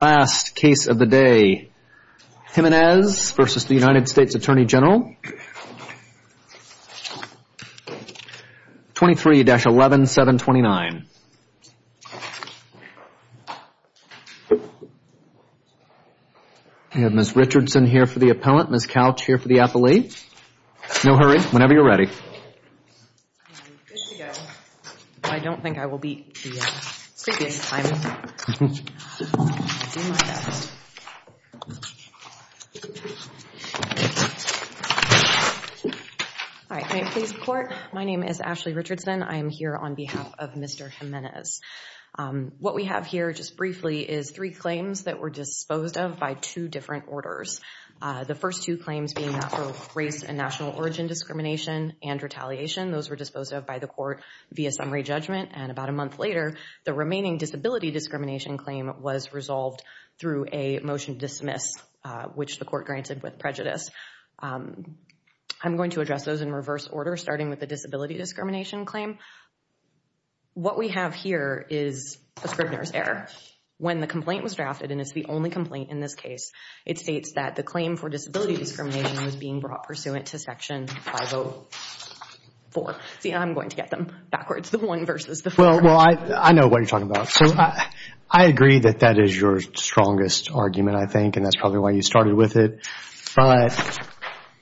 23-11, 729. Ms. Richardson here for the appellant, Ms. Couch here for the appellate. No hurry, whenever you're ready. I'm good to go. I don't think I will beat the previous time. All right, can I please report? My name is Ashley Richardson. I am here on behalf of Mr. Jimenez. What we have here, just briefly, is three claims that were disposed of by two different orders. The first two claims being for race and national origin discrimination and retaliation. Those were disposed of by the court via summary judgment. And about a month later, the remaining disability discrimination claim was resolved through a motion to dismiss, which the court granted with prejudice. I'm going to address those in reverse order, starting with the disability discrimination claim. What we have here is a Scribner's error. When the complaint was drafted, and it's the only complaint in this case, it states that the claim for disability discrimination was being brought pursuant to Section 504. See, I'm going to get them backwards, the one versus the four. Well, I know what you're talking about. I agree that that is your strongest argument, I think, and that's probably why you started with it. But,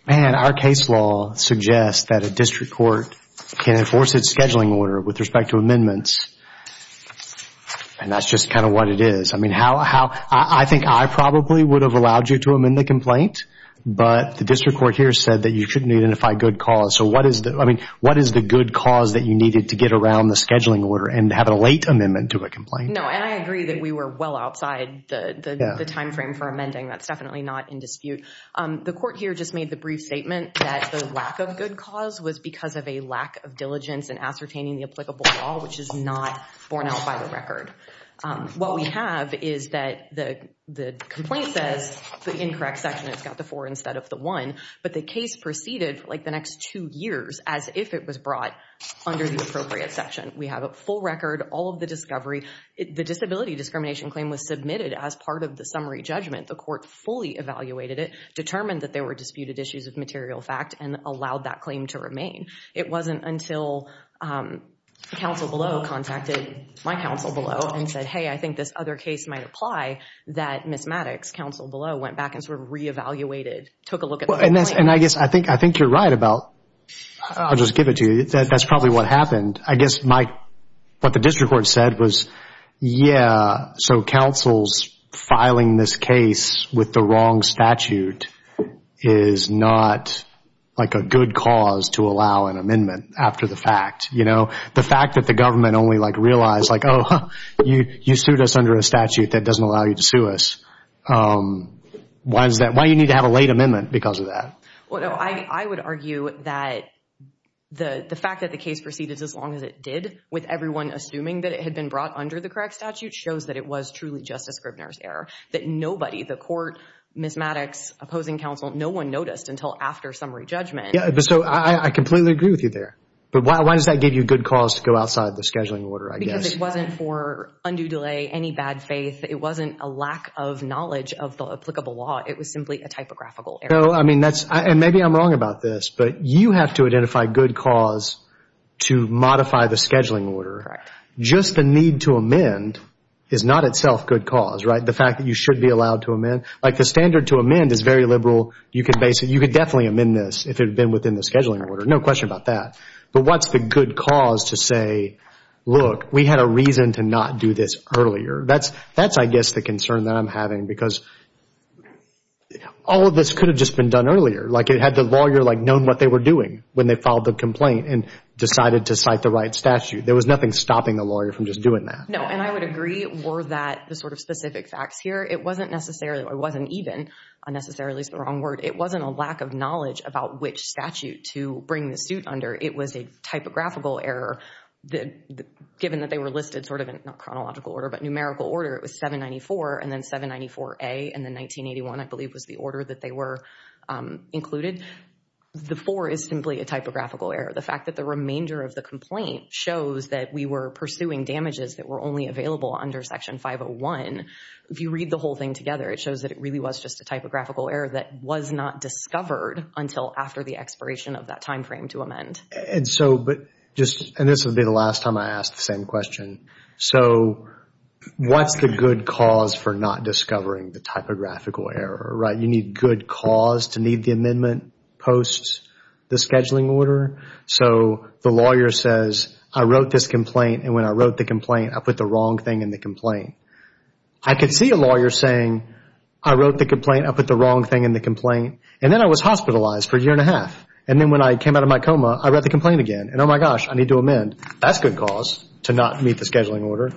man, our case law suggests that a district court can enforce its scheduling order with respect to amendments. And that's just kind of what it is. I mean, I think I probably would have allowed you to amend the complaint, but the district court here said that you shouldn't identify good cause. So what is the good cause that you needed to get around the scheduling order and have a late amendment to a complaint? No, and I agree that we were well outside the timeframe for amending. That's definitely not in dispute. The court here just made the brief statement that the lack of good cause was because of a lack of diligence in ascertaining the applicable law, which is not borne out by the record. What we have is that the complaint says the incorrect section has got the four instead of the one, but the case proceeded like the next two years as if it was brought under the appropriate section. We have a full record, all of the discovery. The disability discrimination claim was submitted as part of the summary judgment. The court fully evaluated it, determined that there were disputed issues of material fact, and allowed that claim to remain. It wasn't until counsel below contacted my counsel below and said, hey, I think this other case might apply, that Ms. Maddox, counsel below, went back and sort of reevaluated, took a look at the complaint. And I guess I think you're right about, I'll just give it to you, that that's probably what happened. I guess what the district court said was, yeah, so counsel's filing this case with the wrong statute is not a good cause to allow an amendment after the fact. The fact that the government only realized, oh, you sued us under a statute that doesn't allow you to sue us. Why do you need to have a late amendment because of that? I would argue that the fact that the case proceeded as long as it did, with everyone assuming that it had been brought under the correct statute, shows that it was truly Justice Scribner's error. That nobody, the court, Ms. Maddox, opposing counsel, no one noticed until after summary judgment. So I completely agree with you there. But why does that give you good cause to go outside the scheduling order, I guess? Because it wasn't for undue delay, any bad faith. It wasn't a lack of knowledge of the applicable law. It was simply a typographical error. Maybe I'm wrong about this, but you have to identify good cause to modify the scheduling order. Just the need to amend is not itself good cause. The fact that you should be allowed to amend. The standard to amend is very liberal. You could definitely amend this if it had been within the scheduling order. No question about that. But what's the good cause to say, look, we had a reason to not do this earlier? That's, I guess, the concern that I'm having because all of this could have just been done earlier. Like, it had the lawyer, like, known what they were doing when they filed the complaint and decided to cite the right statute. There was nothing stopping the lawyer from just doing that. No, and I would agree more that the sort of specific facts here, it wasn't necessarily, or it wasn't even unnecessarily is the wrong word. It wasn't a lack of knowledge about which statute to bring the suit under. It was a typographical error. Given that they were listed sort of in, not chronological order, but numerical order, it was 794 and then 794A and then 1981, I believe, was the order that they were included. The 4 is simply a typographical error. The fact that the remainder of the complaint shows that we were pursuing damages that were only available under Section 501. If you read the whole thing together, it shows that it really was just a typographical error that was not discovered until after the expiration of that timeframe to amend. And so, but just, and this will be the last time I ask the same question. So what's the good cause for not discovering the typographical error, right? You need good cause to need the amendment post the scheduling order. So the lawyer says, I wrote this complaint, and when I wrote the complaint, I put the wrong thing in the complaint. I could see a lawyer saying, I wrote the complaint, I put the wrong thing in the complaint, and then I was hospitalized for a year and a half. And then when I came out of my coma, I read the complaint again. And, oh, my gosh, I need to amend. That's good cause to not meet the scheduling order.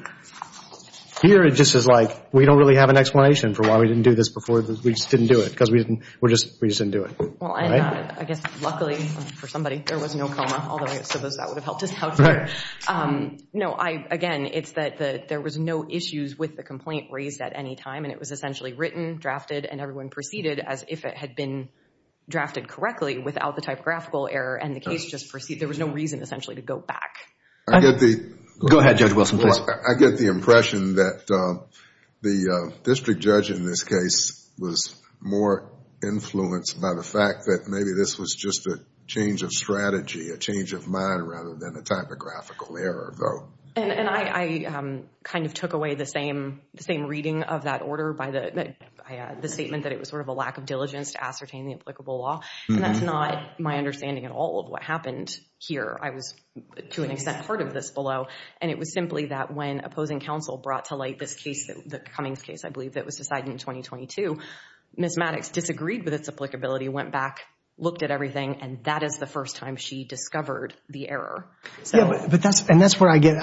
Here, it just is like we don't really have an explanation for why we didn't do this before. We just didn't do it because we just didn't do it. Well, and I guess, luckily for somebody, there was no coma, although I suppose that would have helped us out here. No, again, it's that there was no issues with the complaint raised at any time, and it was essentially written, drafted, and everyone proceeded as if it had been drafted correctly without the typographical error, and the case just proceeded. There was no reason, essentially, to go back. Go ahead, Judge Wilson, please. I get the impression that the district judge in this case was more influenced by the fact that maybe this was just a change of strategy, a change of mind rather than a typographical error, though. And I kind of took away the same reading of that order by the statement that it was sort of a lack of diligence to ascertain the applicable law, and that's not my understanding at all of what happened here. I was, to an extent, part of this below, and it was simply that when opposing counsel brought to light this case, the Cummings case, I believe, that was decided in 2022, Ms. Maddox disagreed with its applicability, went back, looked at everything, and that is the first time she discovered the error. And that's where I get,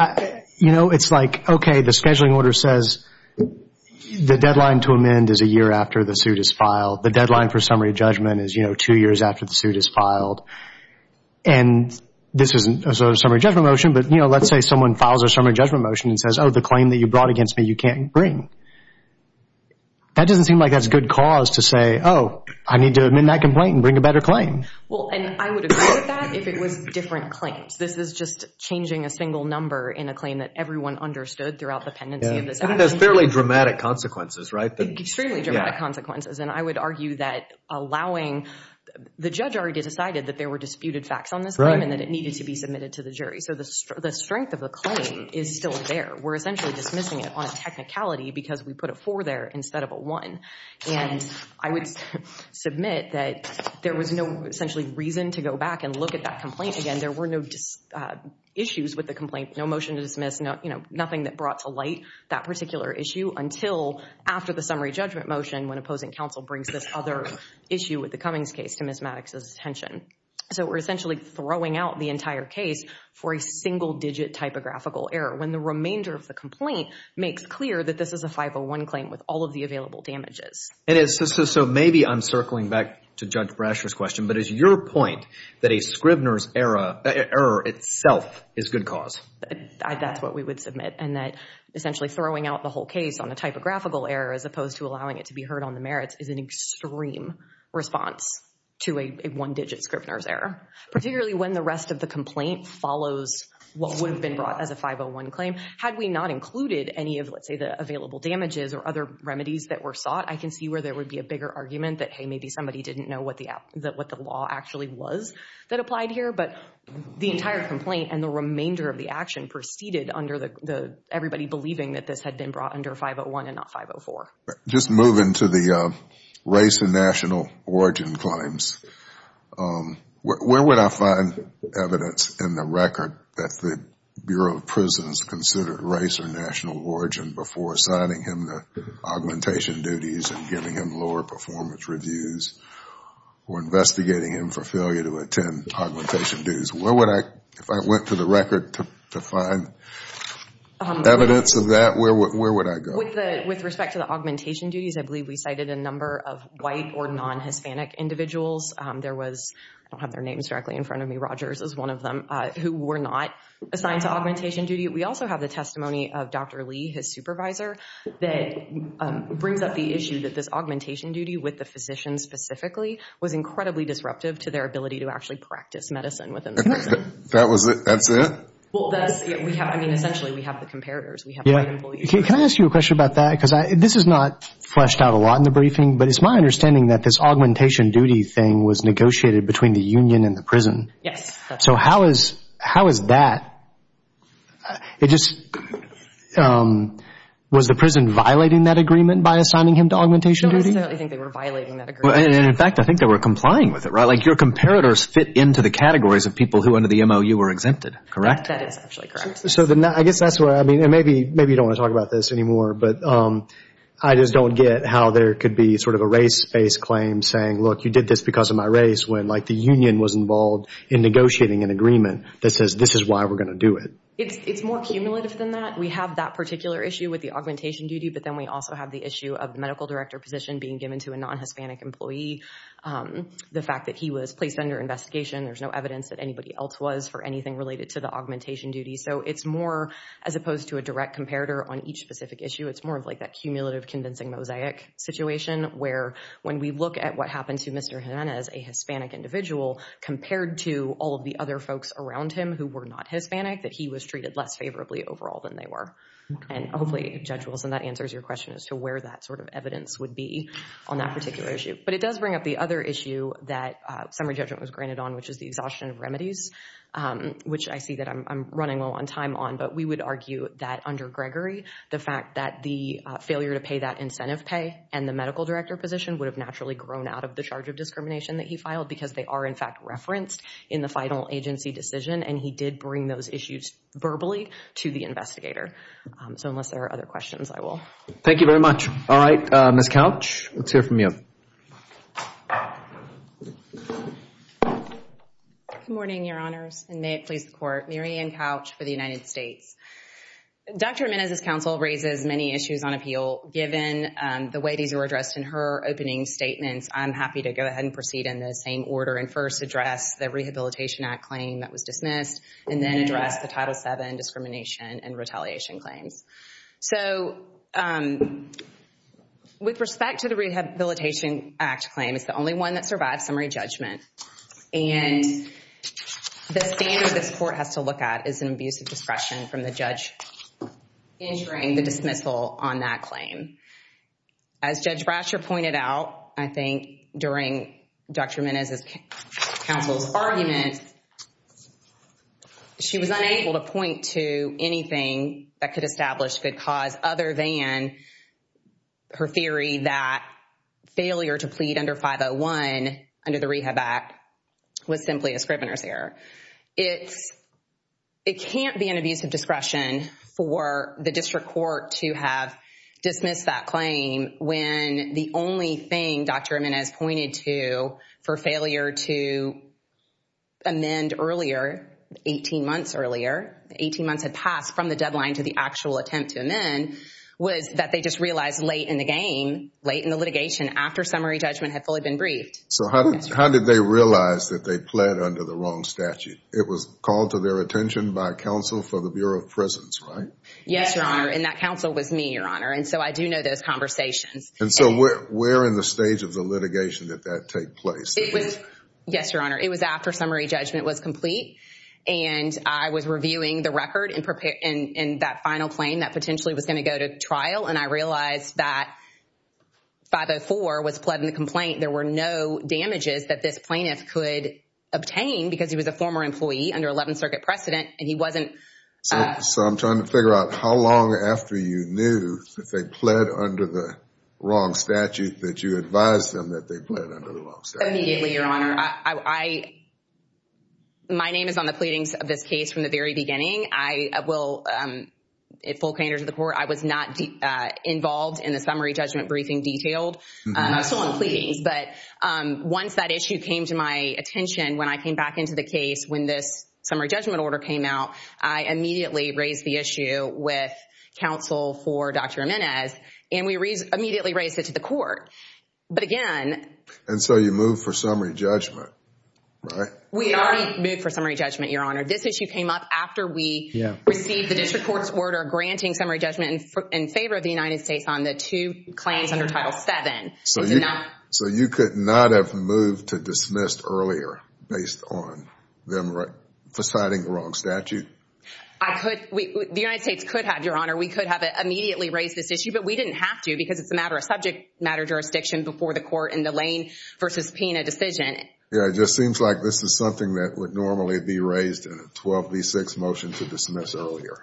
you know, it's like, okay, the scheduling order says the deadline to amend is a year after the suit is filed. The deadline for summary judgment is, you know, two years after the suit is filed. And this isn't a summary judgment motion, but, you know, let's say someone files a summary judgment motion and says, oh, the claim that you brought against me you can't bring. That doesn't seem like that's good cause to say, oh, I need to amend that complaint and bring a better claim. Well, and I would agree with that if it was different claims. This is just changing a single number in a claim that everyone understood throughout the pendency of this action. And it has fairly dramatic consequences, right? Extremely dramatic consequences. And I would argue that allowing – the judge already decided that there were disputed facts on this claim and that it needed to be submitted to the jury. So the strength of the claim is still there. We're essentially dismissing it on a technicality because we put a four there instead of a one. And I would submit that there was no, essentially, reason to go back and look at that complaint again. There were no issues with the complaint, no motion to dismiss, nothing that brought to light that particular issue until after the summary judgment motion when opposing counsel brings this other issue with the Cummings case to Ms. Maddox's attention. So we're essentially throwing out the entire case for a single digit typographical error when the remainder of the complaint makes clear that this is a 501 claim with all of the available damages. So maybe I'm circling back to Judge Brasher's question, but is your point that a Scrivener's error itself is good cause? That's what we would submit and that essentially throwing out the whole case on a typographical error as opposed to allowing it to be heard on the merits is an extreme response to a one digit Scrivener's error, particularly when the rest of the complaint follows what would have been brought as a 501 claim. Had we not included any of, let's say, the available damages or other remedies that were sought, I can see where there would be a bigger argument that, hey, this is what the law actually was that applied here. But the entire complaint and the remainder of the action proceeded under everybody believing that this had been brought under 501 and not 504. Just moving to the race and national origin claims, where would I find evidence in the record that the Bureau of Prisons considered race or national origin before assigning him the augmentation duties and giving him lower performance reviews or investigating him for failure to attend augmentation duties? If I went to the record to find evidence of that, where would I go? With respect to the augmentation duties, I believe we cited a number of white or non-Hispanic individuals. I don't have their names directly in front of me. Rogers is one of them who were not assigned to augmentation duty. We also have the testimony of Dr. Lee, his supervisor, that brings up the issue that this augmentation duty, with the physician specifically, was incredibly disruptive to their ability to actually practice medicine within the prison. That's it? Essentially, we have the comparators. Can I ask you a question about that? Because this is not fleshed out a lot in the briefing, but it's my understanding that this augmentation duty thing was negotiated between the union and the prison. Yes. So how is that? Was the prison violating that agreement by assigning him to augmentation duty? No, I think they were violating that agreement. In fact, I think they were complying with it, right? Like your comparators fit into the categories of people who under the MOU were exempted, correct? That is actually correct. I guess that's where I mean, and maybe you don't want to talk about this anymore, but I just don't get how there could be sort of a race-based claim saying, look, you did this because of my race, when like the union was involved in negotiating an agreement that says this is why we're going to do it. It's more cumulative than that. We have that particular issue with the augmentation duty, but then we also have the issue of the medical director position being given to a non-Hispanic employee. The fact that he was placed under investigation, there's no evidence that anybody else was for anything related to the augmentation duty. So it's more as opposed to a direct comparator on each specific issue. It's more of like that cumulative convincing mosaic situation where when we look at what happened to Mr. Hernandez, a Hispanic individual, compared to all of the other folks around him who were not Hispanic, that he was treated less favorably overall than they were. And hopefully, Judge Wilson, that answers your question as to where that sort of evidence would be on that particular issue. But it does bring up the other issue that summary judgment was granted on, which is the exhaustion of remedies, which I see that I'm running low on time on, but we would argue that under Gregory, the fact that the failure to pay that incentive pay and the medical director position would have naturally grown out of the charge of discrimination that he filed because they are, in fact, referenced in the final agency decision, and he did bring those issues verbally to the investigator. So unless there are other questions, I will. Thank you very much. All right, Ms. Couch, let's hear from you. Good morning, Your Honors, and may it please the Court. Mary Ann Couch for the United States. Dr. Hernandez's counsel raises many issues on appeal, given the way these were addressed in her opening statements. I'm happy to go ahead and proceed in the same order and first address the Rehabilitation Act claim that was dismissed, and then address the Title VII discrimination and retaliation claims. So with respect to the Rehabilitation Act claim, it's the only one that survived summary judgment, and the standard this Court has to look at is an abuse of discretion from the As Judge Brasher pointed out, I think, during Dr. Hernandez's counsel's argument, she was unable to point to anything that could establish good cause other than her theory that failure to plead under 501 under the Rehab Act was simply a scrivener's error. It can't be an abuse of discretion for the district court to have dismissed that claim when the only thing Dr. Hernandez pointed to for failure to amend earlier, 18 months earlier, 18 months had passed from the deadline to the actual attempt to amend, was that they just realized late in the game, late in the litigation after summary judgment had fully been briefed. So how did they realize that they pled under the wrong statute? It was called to their attention by counsel for the Bureau of Prisons, right? Yes, Your Honor, and that counsel was me, Your Honor. And so I do know those conversations. And so where in the stage of the litigation did that take place? Yes, Your Honor. It was after summary judgment was complete, and I was reviewing the record in that final claim that potentially was going to go to trial, and I realized that 504 was pled in the complaint. There were no damages that this plaintiff could obtain because he was a former employee under 11th Circuit precedent, and he wasn't. So I'm trying to figure out how long after you knew that they pled under the wrong statute that you advised them that they pled under the wrong statute. Immediately, Your Honor. My name is on the pleadings of this case from the very beginning. I will, in full candor to the court, I was not involved in the summary judgment briefing detailed. I was still on pleadings. But once that issue came to my attention, when I came back into the case, when this summary judgment order came out, I immediately raised the issue with counsel for Dr. Jimenez, and we immediately raised it to the court. But again... And so you moved for summary judgment, right? We already moved for summary judgment, Your Honor. This issue came up after we received the district court's order granting summary judgment in favor of the United States on the two claims under Title VII. So you could not have moved to dismiss earlier based on them deciding the wrong statute? I could. The United States could have, Your Honor. We could have immediately raised this issue, but we didn't have to because it's a matter of subject matter jurisdiction before the court in the Lane v. Pena decision. Yeah, it just seems like this is something that would normally be raised in a 12B6 motion to dismiss earlier.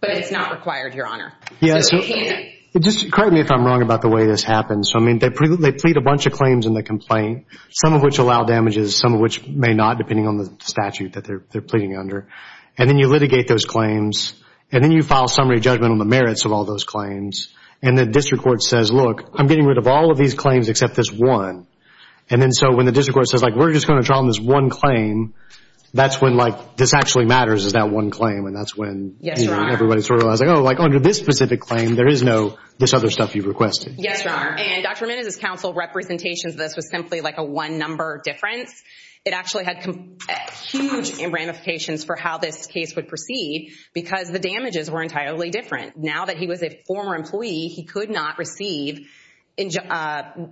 But it's not required, Your Honor. Just correct me if I'm wrong about the way this happens. I mean, they plead a bunch of claims in the complaint, some of which allow damages, some of which may not, depending on the statute that they're pleading under. And then you litigate those claims, and then you file summary judgment on the merits of all those claims, and the district court says, look, I'm getting rid of all of these claims except this one. And then so when the district court says, like, we're just going to draw on this one claim, that's when, like, this actually matters is that one claim, and that's when everybody's sort of realizing, oh, like, under this specific claim, there is no this other stuff you requested. Yes, Your Honor. And Dr. Ramirez's counsel representations of this was simply, like, a one-number difference. It actually had huge ramifications for how this case would proceed because the damages were entirely different. Now that he was a former employee, he could not receive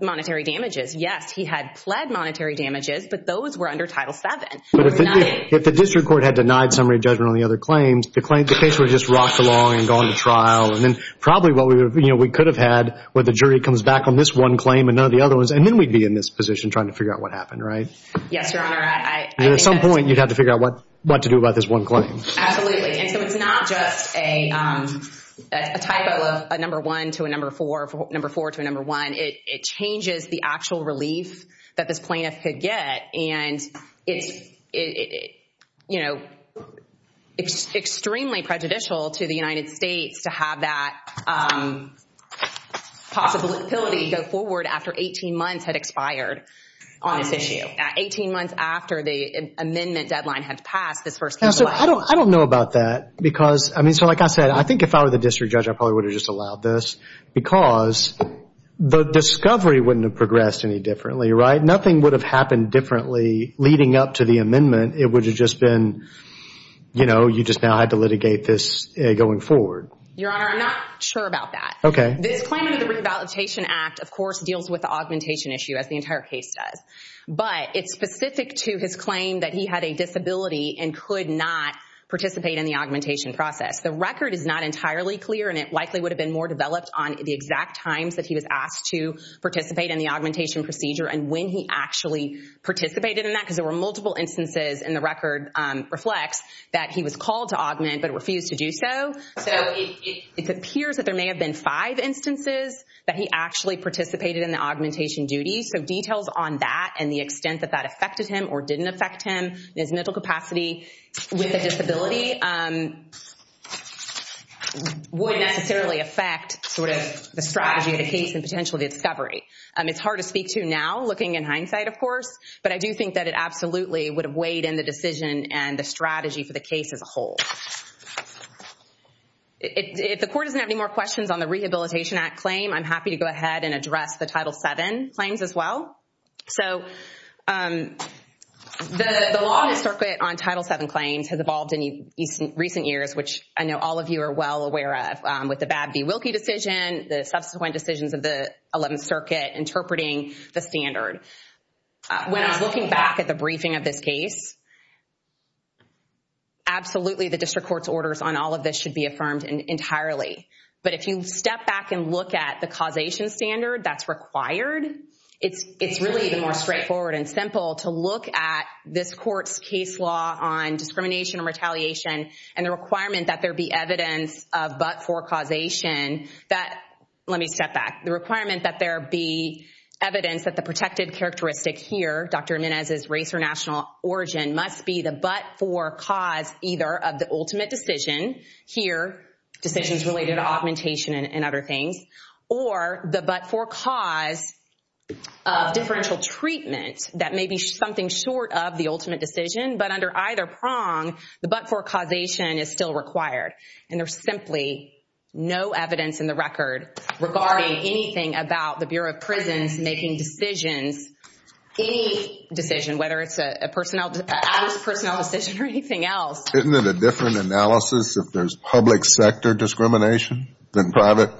monetary damages. Yes, he had pled monetary damages, but those were under Title VII. But if the district court had denied summary judgment on the other claims, the case would have just rocked along and gone to trial. And then probably what we could have had where the jury comes back on this one claim and none of the other ones, and then we'd be in this position trying to figure out what happened, right? Yes, Your Honor. At some point, you'd have to figure out what to do about this one claim. Absolutely. And so it's not just a typo of a number one to a number four, number four to a number one. It changes the actual relief that this plaintiff could get, and it's, you know, extremely prejudicial to the United States to have that possibility go forward after 18 months had expired on this issue. Eighteen months after the amendment deadline had passed, this first case was launched. I don't know about that because, I mean, so like I said, I think if I were the district judge, I probably would have just allowed this because the discovery wouldn't have progressed any differently, right? If nothing would have happened differently leading up to the amendment, it would have just been, you know, you just now had to litigate this going forward. Your Honor, I'm not sure about that. Okay. This claim under the Rehabilitation Act, of course, deals with the augmentation issue, as the entire case does. But it's specific to his claim that he had a disability and could not participate in the augmentation process. The record is not entirely clear, and it likely would have been more developed on the exact times that he was asked to participate in the augmentation procedure and when he actually participated in that, because there were multiple instances, and the record reflects, that he was called to augment but refused to do so. So it appears that there may have been five instances that he actually participated in the augmentation duties. So details on that and the extent that that affected him or didn't affect him in his mental capacity with a disability would necessarily affect sort of the strategy of the case and potentially the discovery. It's hard to speak to now, looking in hindsight, of course, but I do think that it absolutely would have weighed in the decision and the strategy for the case as a whole. If the Court doesn't have any more questions on the Rehabilitation Act claim, I'm happy to go ahead and address the Title VII claims as well. So the law on Title VII claims has evolved in recent years, which I know all of you are well aware of, with the Babb v. Wilkie decision, the subsequent decisions of the Eleventh Circuit, interpreting the standard. When I was looking back at the briefing of this case, absolutely the district court's orders on all of this should be affirmed entirely. But if you step back and look at the causation standard that's required, it's really even more straightforward and simple to look at this court's case law on discrimination and retaliation and the requirement that there be evidence of but-for causation. Let me step back. The requirement that there be evidence that the protected characteristic here, Dr. Menez's race or national origin, must be the but-for cause either of the ultimate decision here, decisions related to augmentation and other things, or the but-for cause of differential treatment. That may be something short of the ultimate decision, but under either prong, the but-for causation is still required. And there's simply no evidence in the record regarding anything about the Bureau of Prisons making decisions, any decision, whether it's an out-of-personnel decision or anything else. Isn't it a different analysis if there's public sector discrimination than private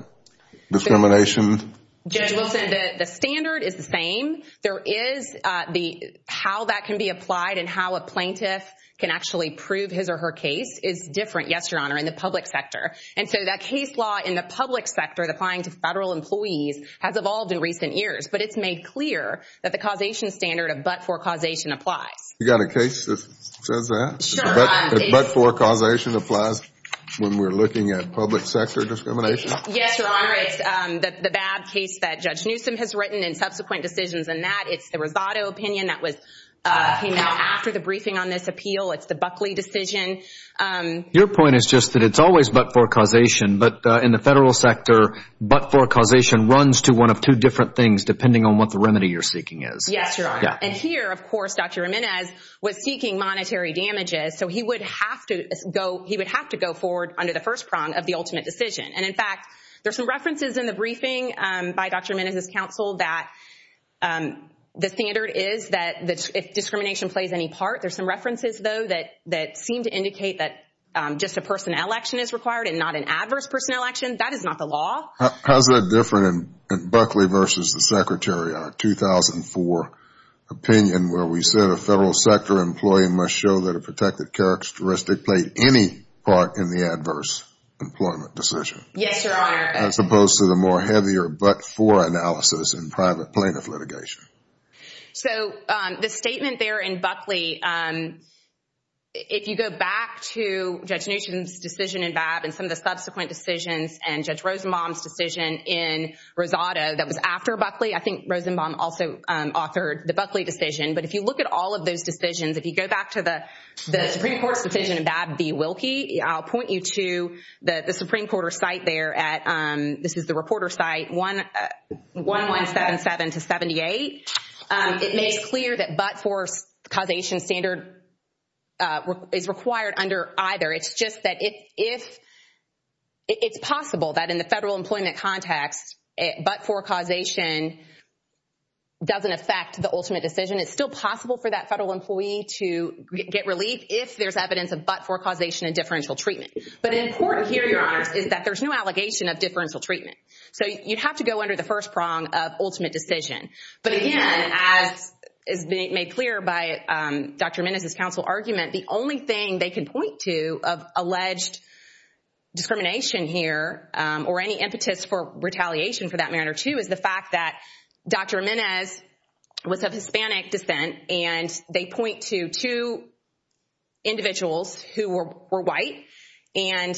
discrimination? Judge Wilson, the standard is the same. There is the how that can be applied and how a plaintiff can actually prove his or her case is different, yes, Your Honor, in the public sector. And so that case law in the public sector, applying to federal employees, has evolved in recent years. But it's made clear that the causation standard of but-for causation applies. You got a case that says that? Sure. But-for causation applies when we're looking at public sector discrimination? Yes, Your Honor. It's the BAB case that Judge Newsom has written and subsequent decisions in that. It's the Rosado opinion that came out after the briefing on this appeal. It's the Buckley decision. Your point is just that it's always but-for causation, but in the federal sector, but-for causation runs to one of two different things, depending on what the remedy you're seeking is. Yes, Your Honor. And here, of course, Dr. Jimenez was seeking monetary damages, so he would have to go forward under the first prong of the ultimate decision. And, in fact, there are some references in the briefing by Dr. Jimenez's counsel that the standard is that discrimination plays any part. There are some references, though, that seem to indicate that just a personal election is required and not an adverse personal election. That is not the law. How is that different in Buckley versus the Secretary, our 2004 opinion, where we said a federal sector employee must show that a protected characteristic played any part in the adverse employment decision? Yes, Your Honor. As opposed to the more heavier but-for analysis in private plaintiff litigation. So the statement there in Buckley, if you go back to Judge Nugent's decision in Babb and some of the subsequent decisions and Judge Rosenbaum's decision in Rosado that was after Buckley, I think Rosenbaum also authored the Buckley decision, but if you look at all of those decisions, if you go back to the Supreme Court's decision in Babb v. Wilkie, I'll point you to the Supreme Court's site there. This is the reporter's site, 1177-78. It made clear that but-for causation standard is required under either. It's just that it's possible that in the federal employment context, but-for causation doesn't affect the ultimate decision. It's still possible for that federal employee to get relief if there's evidence of but-for causation and differential treatment. But important here, Your Honors, is that there's no allegation of differential treatment. So you have to go under the first prong of ultimate decision. But again, as is made clear by Dr. Menes' counsel argument, the only thing they can point to of alleged discrimination here or any impetus for retaliation for that matter too is the fact that Dr. Menes was of Hispanic descent, and they point to two individuals who were white and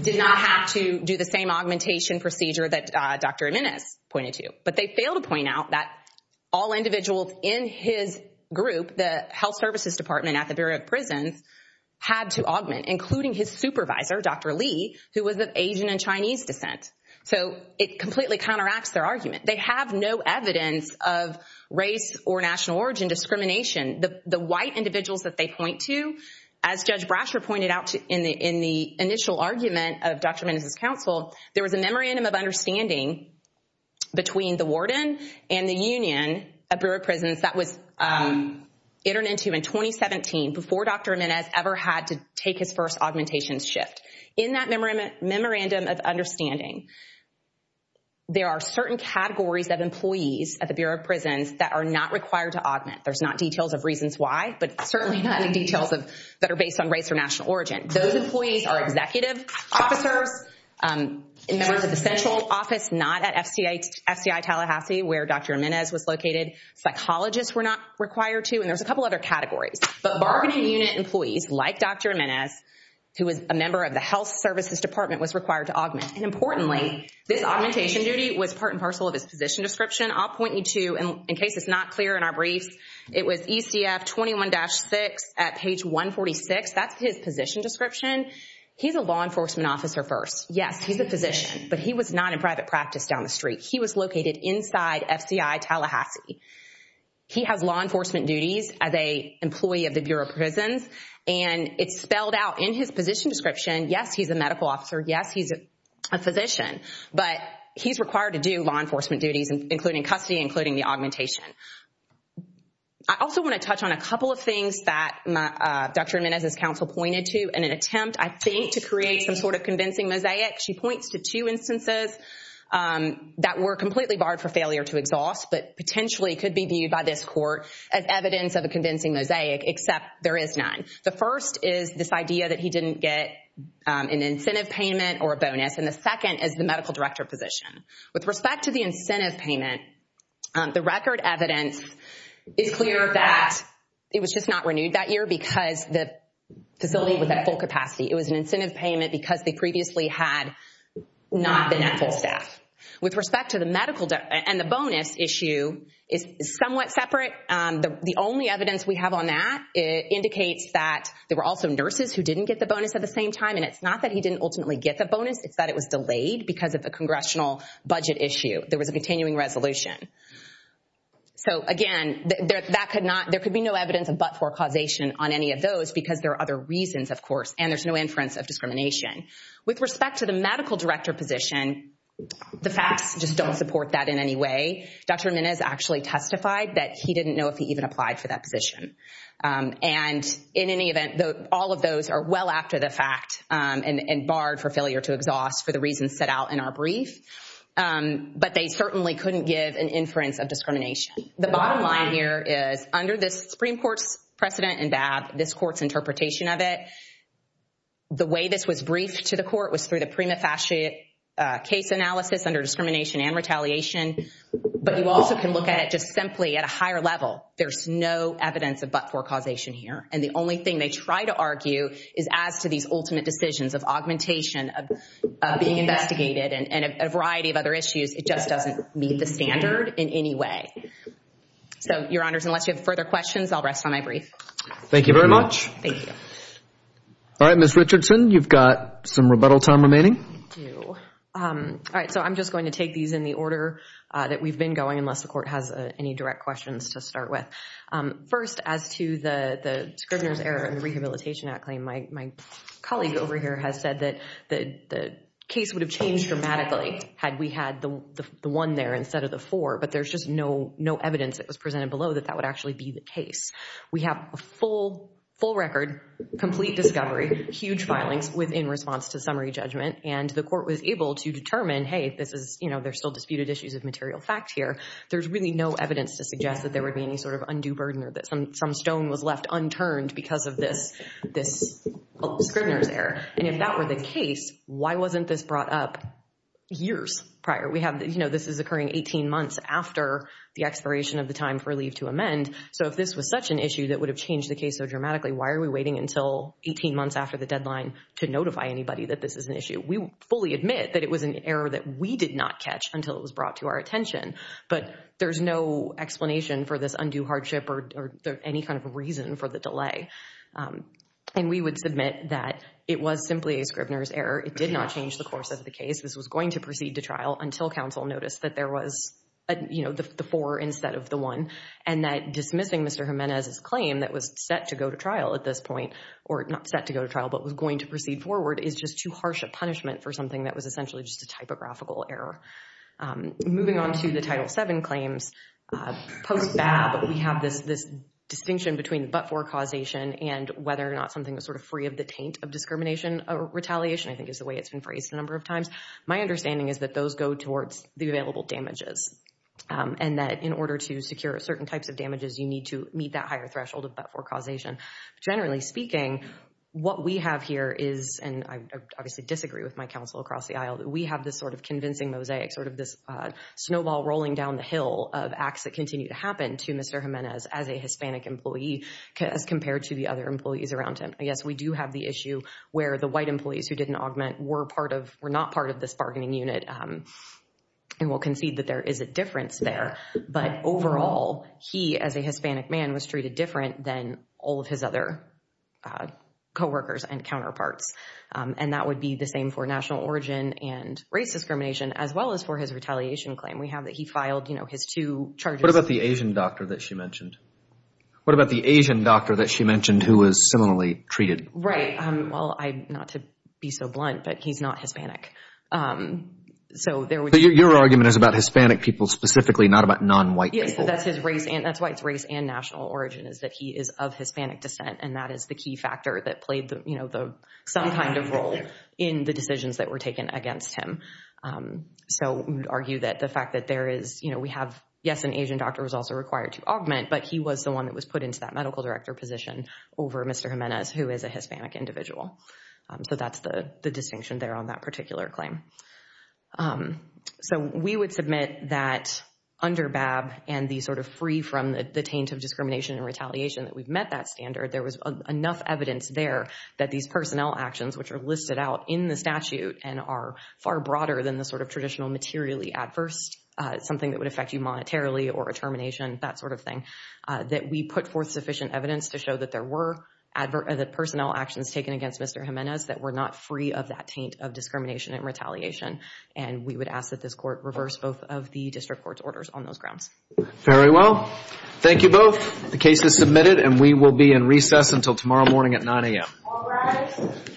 did not have to do the same augmentation procedure that Dr. Menes pointed to. But they failed to point out that all individuals in his group, the Health Services Department at the Bureau of Prisons, had to augment, including his supervisor, Dr. Lee, who was of Asian and Chinese descent. So it completely counteracts their argument. They have no evidence of race or national origin discrimination. The white individuals that they point to, as Judge Brasher pointed out in the initial argument of Dr. Menes' counsel, there was a memorandum of understanding between the warden and the union at Bureau of Prisons that was entered into in 2017 before Dr. Menes ever had to take his first augmentation shift. In that memorandum of understanding, there are certain categories of employees at the Bureau of Prisons that are not required to augment. There's not details of reasons why, but certainly not any details that are based on race or national origin. Those employees are executive officers, members of the central office not at FCI Tallahassee, where Dr. Menes was located, psychologists were not required to, and there's a couple other categories. But bargaining unit employees like Dr. Menes, who was a member of the Health Services Department, was required to augment. And importantly, this augmentation duty was part and parcel of his position description. I'll point you to, in case it's not clear in our briefs, it was ECF 21-6 at page 146. That's his position description. He's a law enforcement officer first. Yes, he's a physician, but he was not in private practice down the street. He was located inside FCI Tallahassee. He has law enforcement duties as an employee of the Bureau of Prisons, and it's spelled out in his position description. Yes, he's a medical officer. Yes, he's a physician, but he's required to do law enforcement duties, including custody, including the augmentation. I also want to touch on a couple of things that Dr. Menes' counsel pointed to in an attempt, I think, to create some sort of convincing mosaic. She points to two instances that were completely barred for failure to exhaust, but potentially could be viewed by this court as evidence of a convincing mosaic, except there is none. The first is this idea that he didn't get an incentive payment or a bonus, and the second is the medical director position. With respect to the incentive payment, the record evidence is clear that it was just not renewed that year because the facility was at full capacity. It was an incentive payment because they previously had not been at full staff. With respect to the bonus issue, it's somewhat separate. The only evidence we have on that indicates that there were also nurses who didn't get the bonus at the same time, and it's not that he didn't ultimately get the bonus. It's that it was delayed because of a congressional budget issue. There was a continuing resolution. So, again, there could be no evidence of but-for causation on any of those because there are other reasons, of course, and there's no inference of discrimination. With respect to the medical director position, the facts just don't support that in any way. Dr. Menez actually testified that he didn't know if he even applied for that position. And in any event, all of those are well after the fact and barred for failure to exhaust for the reasons set out in our brief, but they certainly couldn't give an inference of discrimination. The bottom line here is under this Supreme Court's precedent and this court's interpretation of it, the way this was briefed to the court was through the prima facie case analysis under discrimination and retaliation. But you also can look at it just simply at a higher level. There's no evidence of but-for causation here. And the only thing they try to argue is as to these ultimate decisions of augmentation, of being investigated, and a variety of other issues. It just doesn't meet the standard in any way. So, Your Honors, unless you have further questions, I'll rest on my brief. Thank you very much. Thank you. All right, Ms. Richardson, you've got some rebuttal time remaining. I do. All right, so I'm just going to take these in the order that we've been going, unless the court has any direct questions to start with. First, as to the Scribner's error in the Rehabilitation Act claim, my colleague over here has said that the case would have changed dramatically had we had the one there instead of the four, but there's just no evidence that was presented below that that would actually be the case. We have a full record, complete discovery, huge filings within response to summary judgment, and the court was able to determine, hey, this is, you know, there's still disputed issues of material fact here. There's really no evidence to suggest that there would be any sort of undue burden or that some stone was left unturned because of this Scribner's error. And if that were the case, why wasn't this brought up years prior? We have, you know, this is occurring 18 months after the expiration of the time for leave to amend. So if this was such an issue that would have changed the case so dramatically, why are we waiting until 18 months after the deadline to notify anybody that this is an issue? We fully admit that it was an error that we did not catch until it was brought to our attention, but there's no explanation for this undue hardship or any kind of reason for the delay. And we would submit that it was simply a Scribner's error. It did not change the course of the case. This was going to proceed to trial until counsel noticed that there was, you know, the four instead of the one, and that dismissing Mr. Jimenez's claim that was set to go to trial at this point, or not set to go to trial, but was going to proceed forward is just too harsh a punishment for something that was essentially just a typographical error. Moving on to the Title VII claims, post BAB, we have this distinction between the but-for causation and whether or not something was sort of free of the taint of discrimination or retaliation, I think is the way it's been phrased a number of times. My understanding is that those go towards the available damages and that in order to secure certain types of damages, you need to meet that higher threshold of but-for causation. Generally speaking, what we have here is, and I obviously disagree with my counsel across the aisle, we have this sort of convincing mosaic, sort of this snowball rolling down the hill of acts that continue to happen to Mr. Jimenez as a Hispanic employee as compared to the other employees around him. Yes, we do have the issue where the white employees who didn't augment were part of, were not part of this bargaining unit. And we'll concede that there is a difference there. But overall, he, as a Hispanic man, was treated different than all of his other coworkers and counterparts. And that would be the same for national origin and race discrimination, as well as for his retaliation claim. We have that he filed, you know, his two charges. What about the Asian doctor that she mentioned? What about the Asian doctor that she mentioned who was similarly treated? Right. Well, not to be so blunt, but he's not Hispanic. Your argument is about Hispanic people specifically, not about non-white people. Yes, that's his race, and that's why it's race and national origin, is that he is of Hispanic descent. And that is the key factor that played, you know, some kind of role in the decisions that were taken against him. So we would argue that the fact that there is, you know, we have, yes, an Asian doctor was also required to augment, but he was the one that was put into that medical director position over Mr. Jimenez, who is a Hispanic individual. So that's the distinction there on that particular claim. So we would submit that under BAB and the sort of free from the taint of discrimination and retaliation that we've met that standard, there was enough evidence there that these personnel actions, which are listed out in the statute and are far broader than the sort of traditional materially adverse, something that would affect you monetarily or a termination, that sort of thing, that we put forth sufficient evidence to show that there were personnel actions taken against Mr. Jimenez that were not free of that taint of discrimination and retaliation. And we would ask that this court reverse both of the district court's orders on those grounds. Very well. Thank you both. The case is submitted, and we will be in recess until tomorrow morning at 9 a.m.